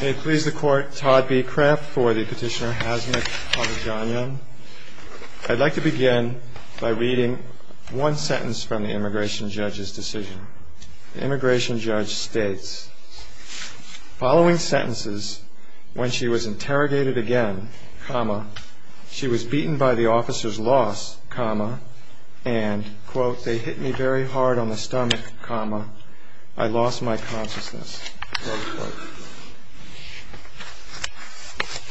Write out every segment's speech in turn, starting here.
May it please the court, Todd B. Kraft for the petitioner Hazmik Halajanyan. I'd like to begin by reading one sentence from the immigration judge's decision. The immigration judge states, Following sentences, when she was interrogated again, comma, she was beaten by the officers loss, comma, and, quote, they hit me very hard on the stomach, comma, I lost my consciousness, close quote.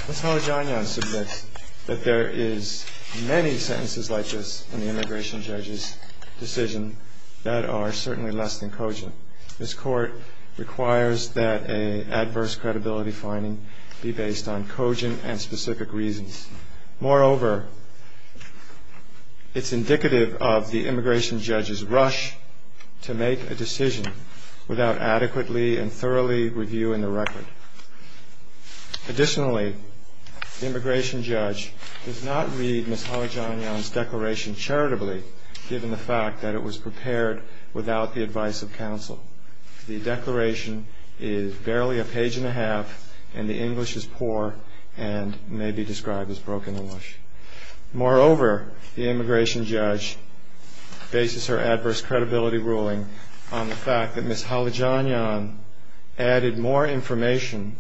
Ms. Halajanyan submits that there is many sentences like this in the immigration judge's decision that are certainly less than cogent. This court requires that an adverse credibility finding be based on cogent and specific reasons. Moreover, it's indicative of the immigration judge's rush to make a decision without adequately and thoroughly reviewing the record. Additionally, the immigration judge does not read Ms. Halajanyan's declaration charitably given the fact that it was prepared without the advice of counsel. The declaration is barely a page and a half and the English is poor and may be described as broken English. Moreover, the immigration judge bases her adverse credibility ruling on the fact that Ms. Halajanyan added more information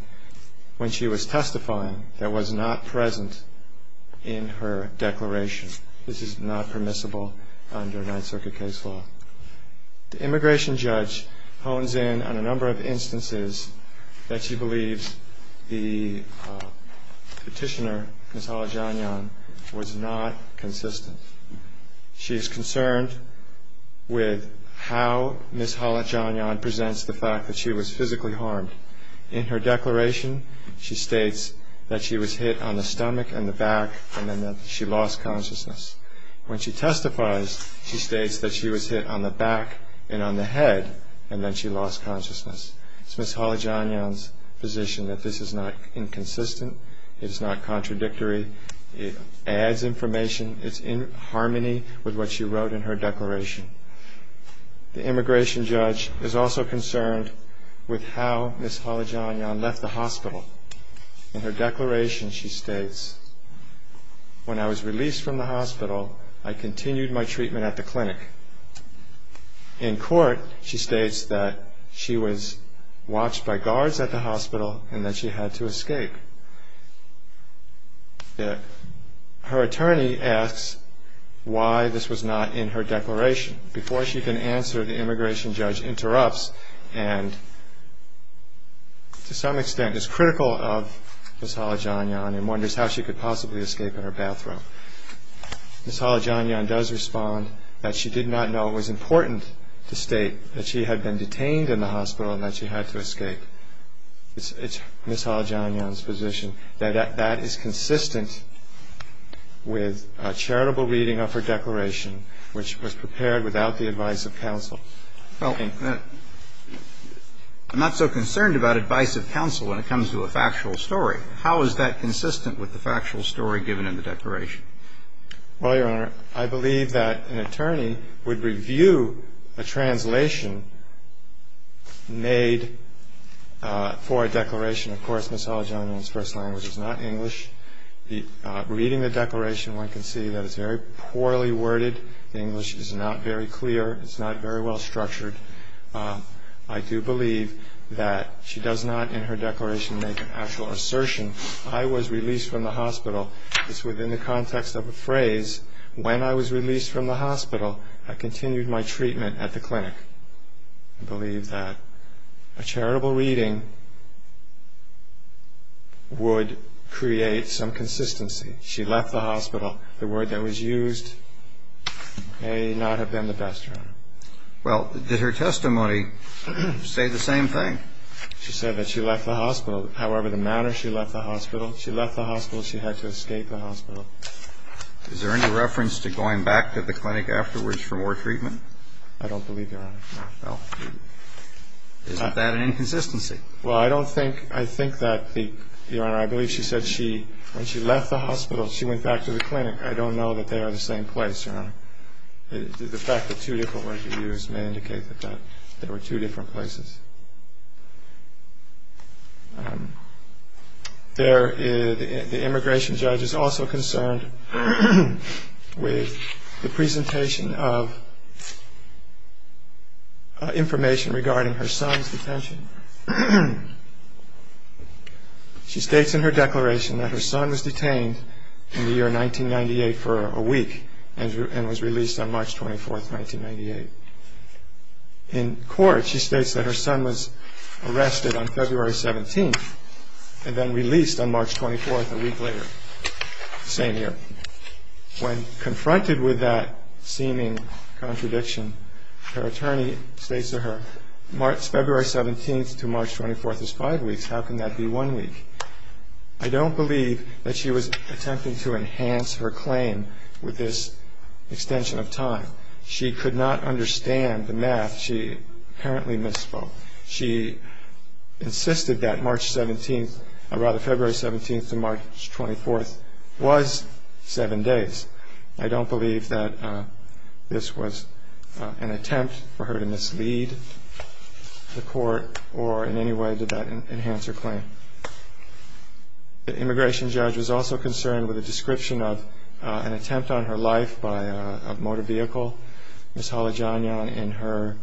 when she was testifying that was not present in her declaration. This is not permissible under Ninth Circuit case law. The immigration judge hones in on a number of instances that she believes the petitioner, Ms. Halajanyan, was not consistent. She is concerned with how Ms. Halajanyan presents the fact that she was physically harmed. In her declaration, she states that she was hit on the stomach and the back and then that she lost consciousness. When she testifies, she states that she was hit on the back and on the head and then she lost consciousness. It's Ms. Halajanyan's position that this is not inconsistent. It is not contradictory. It adds information. It's in harmony with what she wrote in her declaration. The immigration judge is also concerned with how Ms. Halajanyan left the hospital. In her declaration, she states, when I was released from the hospital, I continued my treatment at the clinic. In court, she states that she was watched by guards at the hospital and that she had to escape. Her attorney asks why this was not in her declaration. Before she can answer, the immigration judge interrupts and to some extent is critical of Ms. Halajanyan and wonders how she could possibly escape in her bathrobe. Ms. Halajanyan does respond that she did not know it was important to state that she had been detained in the hospital and that she had to escape. It's Ms. Halajanyan's position that that is consistent with a charitable reading of her declaration, which was prepared without the advice of counsel. Well, I'm not so concerned about advice of counsel when it comes to a factual story. How is that consistent with the factual story given in the declaration? Well, Your Honor, I believe that an attorney would review a translation made for a declaration. Of course, Ms. Halajanyan's first language is not English. Reading the declaration, one can see that it's very poorly worded. The English is not very clear. It's not very well structured. I do believe that she does not in her declaration make an actual assertion. I was released from the hospital. It's within the context of a phrase. When I was released from the hospital, I continued my treatment at the clinic. I believe that a charitable reading would create some consistency. She left the hospital. The word that was used may not have been the best, Your Honor. Well, did her testimony say the same thing? She said that she left the hospital. However, the manner she left the hospital, she left the hospital, she had to escape the hospital. Is there any reference to going back to the clinic afterwards for more treatment? I don't believe, Your Honor. Well, isn't that an inconsistency? Well, I think that, Your Honor, I believe she said when she left the hospital, she went back to the clinic. I don't know that they are the same place, Your Honor. The fact that two different words were used may indicate that there were two different places. The immigration judge is also concerned with the presentation of information regarding her son's detention. She states in her declaration that her son was detained in the year 1998 for a week and was released on March 24, 1998. In court, she states that her son was arrested on February 17th and then released on March 24th, a week later, the same year. When confronted with that seeming contradiction, her attorney states to her, February 17th to March 24th is five weeks. How can that be one week? I don't believe that she was attempting to enhance her claim with this extension of time. She could not understand the math. She apparently misspoke. She insisted that February 17th to March 24th was seven days. I don't believe that this was an attempt for her to mislead the court or in any way did that enhance her claim. The immigration judge was also concerned with a description of an attempt on her life by a motor vehicle. Ms. Halajanyan, in her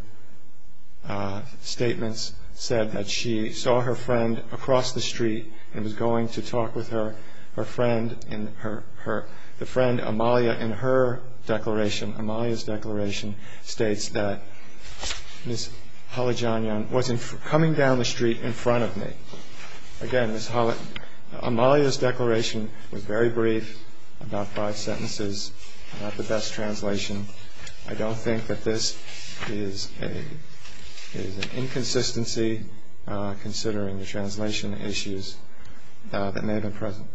statements, said that she saw her friend across the street and was going to talk with her friend. The friend, Amalia, in her declaration, Amalia's declaration, states that Ms. Halajanyan, was coming down the street in front of me. Again, Ms. Halajanyan, Amalia's declaration was very brief, about five sentences, not the best translation. I don't think that this is an inconsistency, considering the translation issues that may have been present.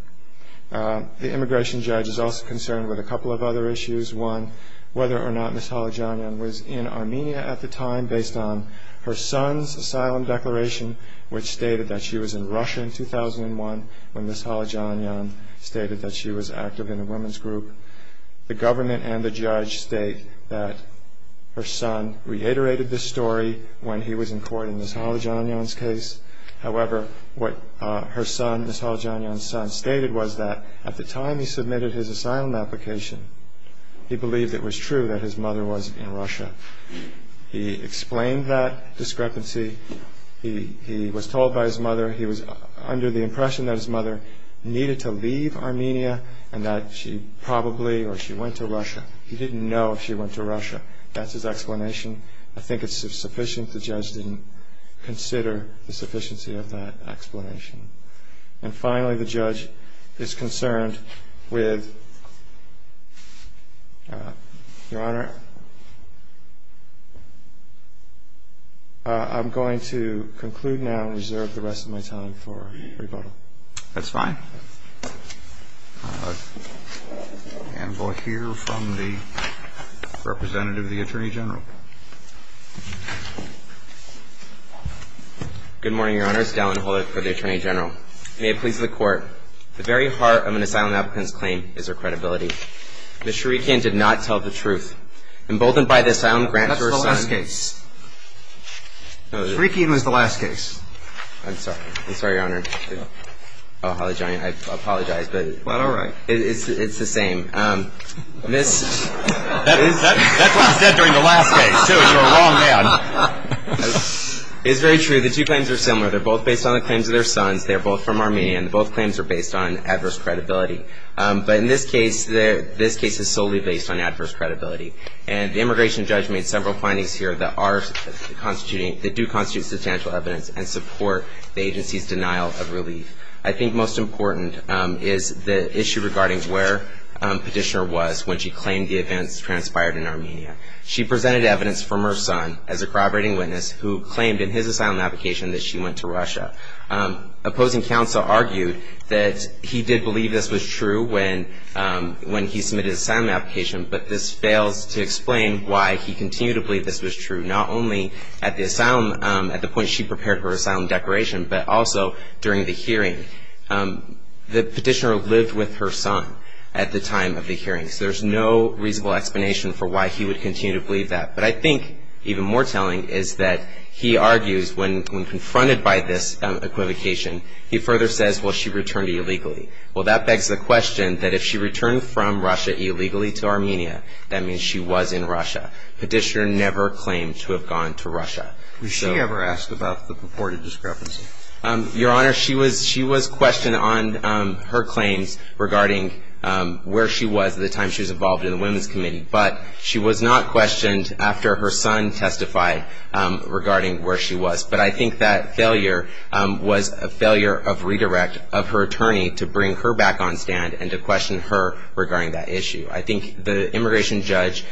The immigration judge is also concerned with a couple of other issues. One, whether or not Ms. Halajanyan was in Armenia at the time, based on her son's asylum declaration, which stated that she was in Russia in 2001, when Ms. Halajanyan stated that she was active in a women's group. The government and the judge state that her son reiterated this story when he was in court in Ms. Halajanyan's case. However, what her son, Ms. Halajanyan's son, stated was that at the time he submitted his asylum application, he believed it was true that his mother was in Russia. He explained that discrepancy. He was told by his mother, he was under the impression that his mother needed to leave Armenia, and that she probably, or she went to Russia. He didn't know if she went to Russia. That's his explanation. I think it's sufficient the judge didn't consider the sufficiency of that explanation. And finally, the judge is concerned with, Your Honor, I'm going to conclude now and reserve the rest of my time for rebuttal. That's fine. And we'll hear from the representative of the Attorney General. Good morning, Your Honor. It's Dallin Holder for the Attorney General. May it please the Court. At the very heart of an asylum applicant's claim is her credibility. Ms. Sharikian did not tell the truth. Emboldened by this, I now grant to her son. That's the last case. Sharikian was the last case. I'm sorry. I'm sorry, Your Honor. I apologize. It's all right. It's the same. That's what I said during the last case, too, is you're a wrong man. It's very true. The two claims are similar. They're both based on the claims of their sons. They're both from Armenia. And both claims are based on adverse credibility. But in this case, this case is solely based on adverse credibility. And the immigration judge made several findings here that are constituting, that do constitute substantial evidence and support the agency's denial of relief. I think most important is the issue regarding where Petitioner was when she claimed the events transpired in Armenia. She presented evidence from her son as a corroborating witness who claimed in his asylum application that she went to Russia. Opposing counsel argued that he did believe this was true when he submitted his asylum application, but this fails to explain why he continued to believe this was true, not only at the point she prepared her asylum declaration, but also during the hearing. The petitioner lived with her son at the time of the hearing, so there's no reasonable explanation for why he would continue to believe that. But I think even more telling is that he argues when confronted by this equivocation, he further says, well, she returned illegally. Well, that begs the question that if she returned from Russia illegally to Armenia, that means she was in Russia. Petitioner never claimed to have gone to Russia. Was she ever asked about the purported discrepancy? Your Honor, she was questioned on her claims regarding where she was at the time she was involved in the Women's Committee, but she was not questioned after her son testified regarding where she was. But I think that failure was a failure of redirect of her attorney to bring her back on stand and to question her regarding that issue. I think the immigration judge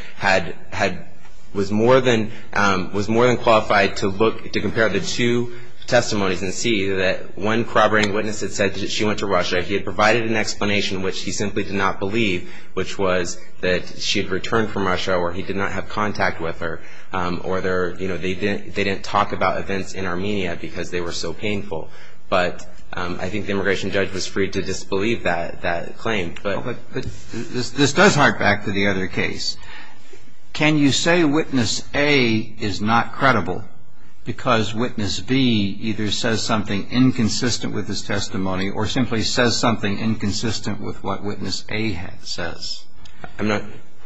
was more than qualified to compare the two testimonies and see that one corroborating witness had said that she went to Russia. He had provided an explanation, which he simply did not believe, which was that she had returned from Russia or he did not have contact with her, or they didn't talk about events in Armenia because they were so painful. But I think the immigration judge was free to disbelieve that claim. But this does hark back to the other case. Can you say witness A is not credible because witness B either says something inconsistent with his testimony or simply says something inconsistent with what witness A says?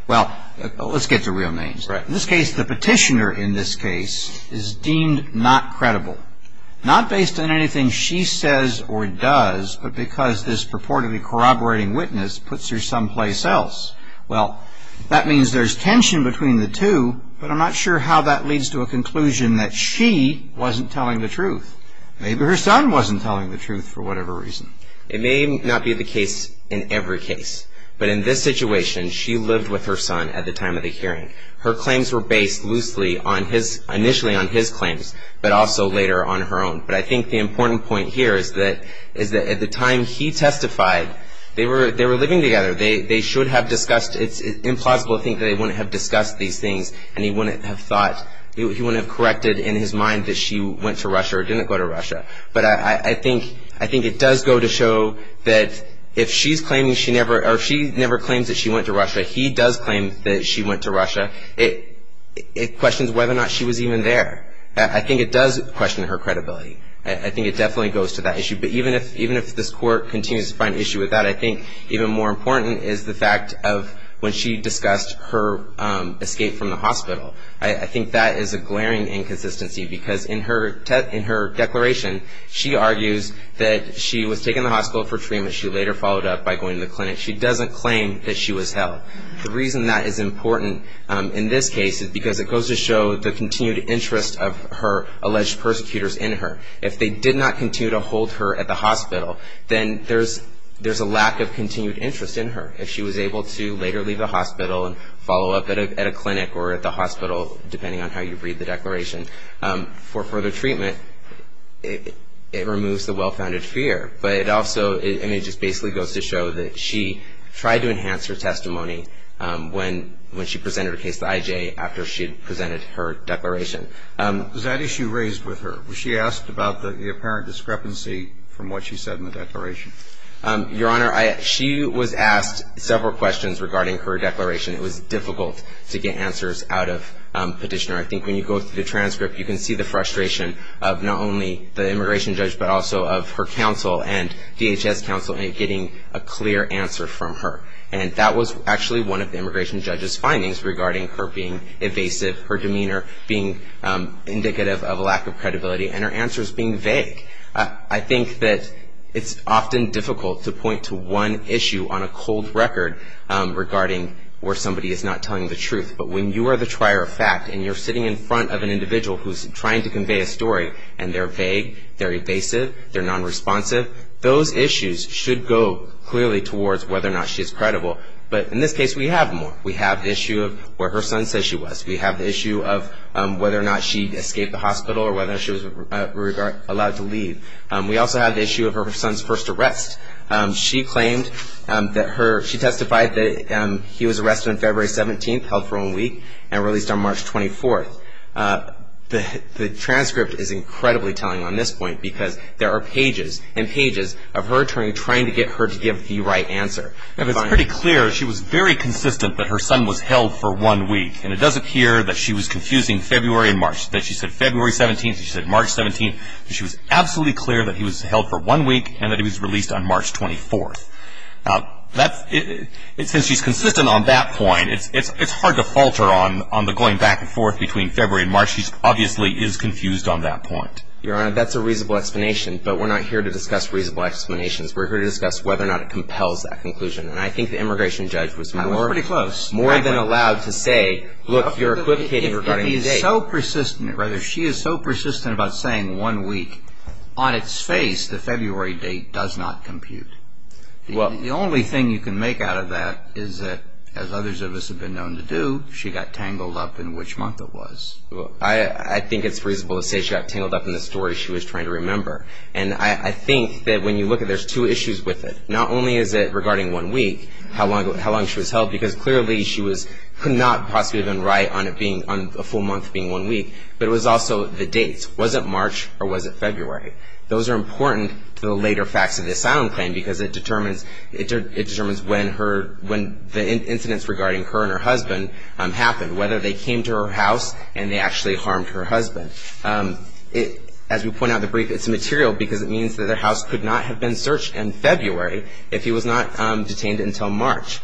Well, let's get to real names. In this case, the petitioner in this case is deemed not credible, not based on anything she says or does, but because this purportedly corroborating witness puts her someplace else. Well, that means there's tension between the two, but I'm not sure how that leads to a conclusion that she wasn't telling the truth. Maybe her son wasn't telling the truth for whatever reason. It may not be the case in every case, but in this situation, she lived with her son at the time of the hearing. Her claims were based loosely initially on his claims, but also later on her own. But I think the important point here is that at the time he testified, they were living together. They should have discussed. It's implausible to think that they wouldn't have discussed these things and he wouldn't have corrected in his mind that she went to Russia or didn't go to Russia. But I think it does go to show that if she never claims that she went to Russia, he does claim that she went to Russia, it questions whether or not she was even there. I think it does question her credibility. I think it definitely goes to that issue. But even if this court continues to find an issue with that, I think even more important is the fact of when she discussed her escape from the hospital. I think that is a glaring inconsistency because in her declaration, she argues that she was taken to the hospital for treatment. She later followed up by going to the clinic. She doesn't claim that she was held. The reason that is important in this case is because it goes to show the continued interest of her alleged persecutors in her. If they did not continue to hold her at the hospital, then there's a lack of continued interest in her. If she was able to later leave the hospital and follow up at a clinic or at the hospital, depending on how you read the declaration, for further treatment, it removes the well-founded fear. But it also just basically goes to show that she tried to enhance her testimony when she presented her case to IJ after she had presented her declaration. Was that issue raised with her? Was she asked about the apparent discrepancy from what she said in the declaration? Your Honor, she was asked several questions regarding her declaration. It was difficult to get answers out of Petitioner. I think when you go through the transcript, you can see the frustration of not only the immigration judge but also of her counsel and DHS counsel in getting a clear answer from her. And that was actually one of the immigration judge's findings regarding her being evasive, her demeanor being indicative of a lack of credibility, and her answers being vague. I think that it's often difficult to point to one issue on a cold record regarding where somebody is not telling the truth. But when you are the trier of fact and you're sitting in front of an individual who's trying to convey a story and they're vague, they're evasive, they're nonresponsive, those issues should go clearly towards whether or not she's credible. But in this case, we have more. We have the issue of where her son says she was. We have the issue of whether or not she escaped the hospital or whether she was allowed to leave. We also have the issue of her son's first arrest. She testified that he was arrested on February 17th, held for one week, and released on March 24th. The transcript is incredibly telling on this point because there are pages and pages of her attorney trying to get her to give the right answer. If it's pretty clear, she was very consistent that her son was held for one week. And it does appear that she was confusing February and March, that she said February 17th and she said March 17th. She was absolutely clear that he was held for one week and that he was released on March 24th. Since she's consistent on that point, it's hard to falter on the going back and forth between February and March. She obviously is confused on that point. Your Honor, that's a reasonable explanation, but we're not here to discuss reasonable explanations. We're here to discuss whether or not it compels that conclusion. And I think the immigration judge was more than allowed to say, look, you're equivocating regarding the date. If he's so persistent, or rather she is so persistent about saying one week, on its face, the February date does not compute. The only thing you can make out of that is that, as others of us have been known to do, she got tangled up in which month it was. I think it's reasonable to say she got tangled up in the story she was trying to remember. And I think that when you look at it, there's two issues with it. Not only is it regarding one week, how long she was held, because clearly she was not possibly been right on a full month being one week. But it was also the dates. Was it March or was it February? Those are important to the later facts of the asylum claim because it determines when the incidents regarding her and her husband happened. Whether they came to her house and they actually harmed her husband. As we point out in the brief, it's material because it means that their house could not have been searched in February if he was not detained until March.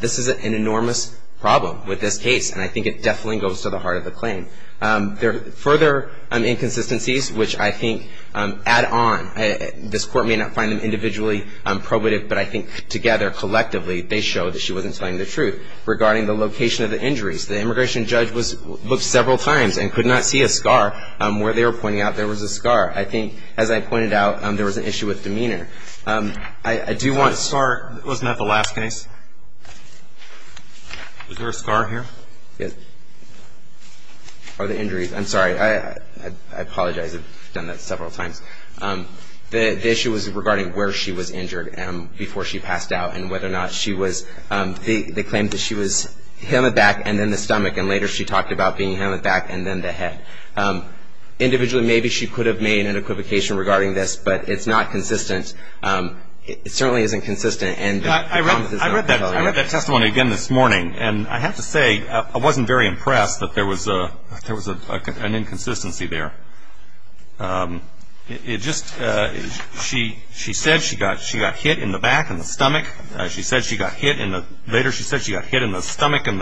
This is an enormous problem with this case, and I think it definitely goes to the heart of the claim. Further inconsistencies, which I think add on. This court may not find them individually probative, but I think together, collectively, they show that she wasn't telling the truth regarding the location of the injuries. The immigration judge looked several times and could not see a scar where they were pointing out there was a scar. I think, as I pointed out, there was an issue with demeanor. I do want to start. Wasn't that the last case? Was there a scar here? Yes. Oh, the injuries. I'm sorry. I apologize. I've done that several times. The issue was regarding where she was injured before she passed out and whether or not she was. They claimed that she was hemmed back and then the stomach, and later she talked about being hemmed back and then the head. Individually, maybe she could have made an equivocation regarding this, but it's not consistent. It certainly isn't consistent. I read that testimony again this morning, and I have to say I wasn't very impressed that there was an inconsistency there. It just – she said she got hit in the back and the stomach. She said she got hit in the – later she said she got hit in the stomach and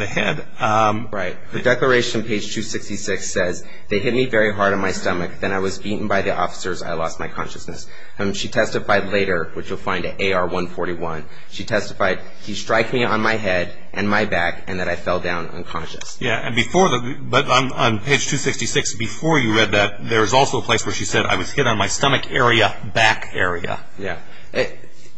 the head. Right. The Declaration, page 266, says, They hit me very hard on my stomach. Then I was beaten by the officers. I lost my consciousness. She testified later, which you'll find at AR-141. She testified, He striked me on my head and my back and that I fell down unconscious. Yeah, and before the – but on page 266, before you read that, there was also a place where she said, I was hit on my stomach area, back area. Yeah.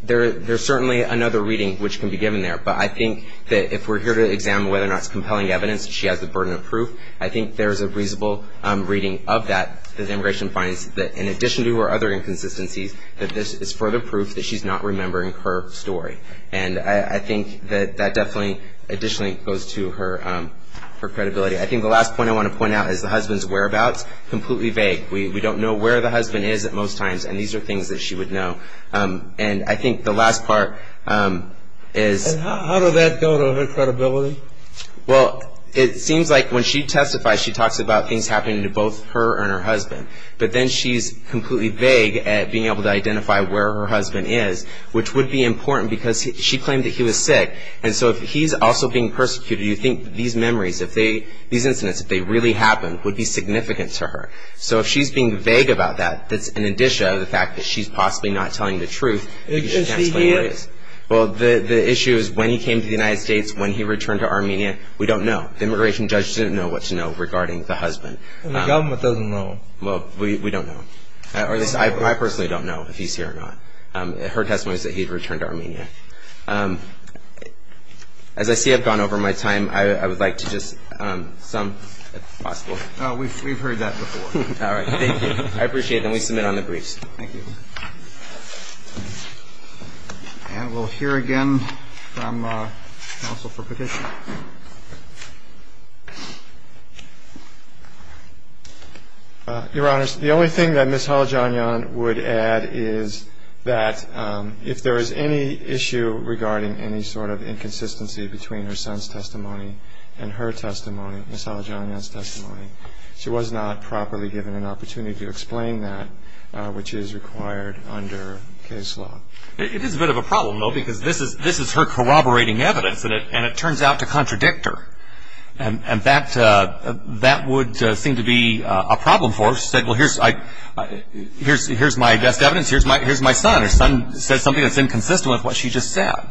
There's certainly another reading which can be given there, but I think that if we're here to examine whether or not it's compelling evidence that she has the burden of proof, I think there's a reasonable reading of that that immigration finds that, in addition to her other inconsistencies, that this is further proof that she's not remembering her story. And I think that that definitely additionally goes to her credibility. I think the last point I want to point out is the husband's whereabouts, completely vague. We don't know where the husband is at most times, and these are things that she would know. And I think the last part is – And how does that go to her credibility? Well, it seems like when she testifies, she talks about things happening to both her and her husband. But then she's completely vague at being able to identify where her husband is, which would be important because she claimed that he was sick. And so if he's also being persecuted, you think these memories, if they – these incidents, if they really happened, would be significant to her. So if she's being vague about that, that's an addition to the fact that she's possibly not telling the truth. Is she here? She is. Well, the issue is when he came to the United States, when he returned to Armenia, we don't know. The immigration judge didn't know what to know regarding the husband. And the government doesn't know. Well, we don't know. Or at least I personally don't know if he's here or not. Her testimony is that he returned to Armenia. As I see I've gone over my time, I would like to just sum, if possible. We've heard that before. All right. Thank you. I appreciate it. And we submit on the briefs. Thank you. And we'll hear again from counsel for petition. Your Honors, the only thing that Ms. Halajanyan would add is that if there is any issue regarding any sort of inconsistency between her son's testimony and her testimony, Ms. Halajanyan's testimony, she was not properly given an opportunity to explain that, which is required under case law. It is a bit of a problem, though, because this is her corroborating evidence, and it turns out to contradict her. And that would seem to be a problem for her. She said, well, here's my best evidence. Here's my son. Her son said something that's inconsistent with what she just said.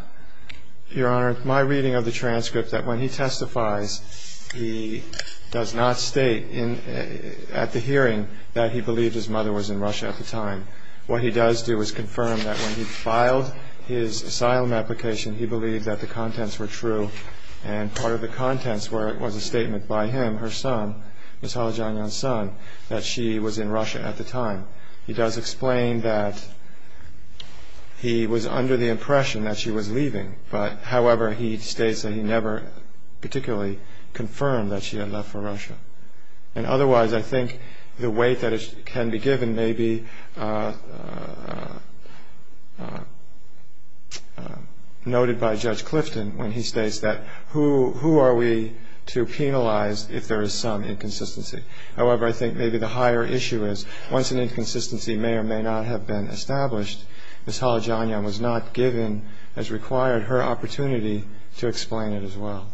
Your Honor, my reading of the transcript, that when he testifies, he does not state at the hearing that he believed his mother was in Russia at the time. What he does do is confirm that when he filed his asylum application, he believed that the contents were true, and part of the contents was a statement by him, her son, Ms. Halajanyan's son, that she was in Russia at the time. He does explain that he was under the impression that she was leaving, but however, he states that he never particularly confirmed that she had left for Russia. And otherwise, I think the weight that can be given may be noted by Judge Clifton when he states that who are we to penalize if there is some inconsistency. However, I think maybe the higher issue is once an inconsistency may or may not have been established, Ms. Halajanyan was not given, as required, her opportunity to explain it as well.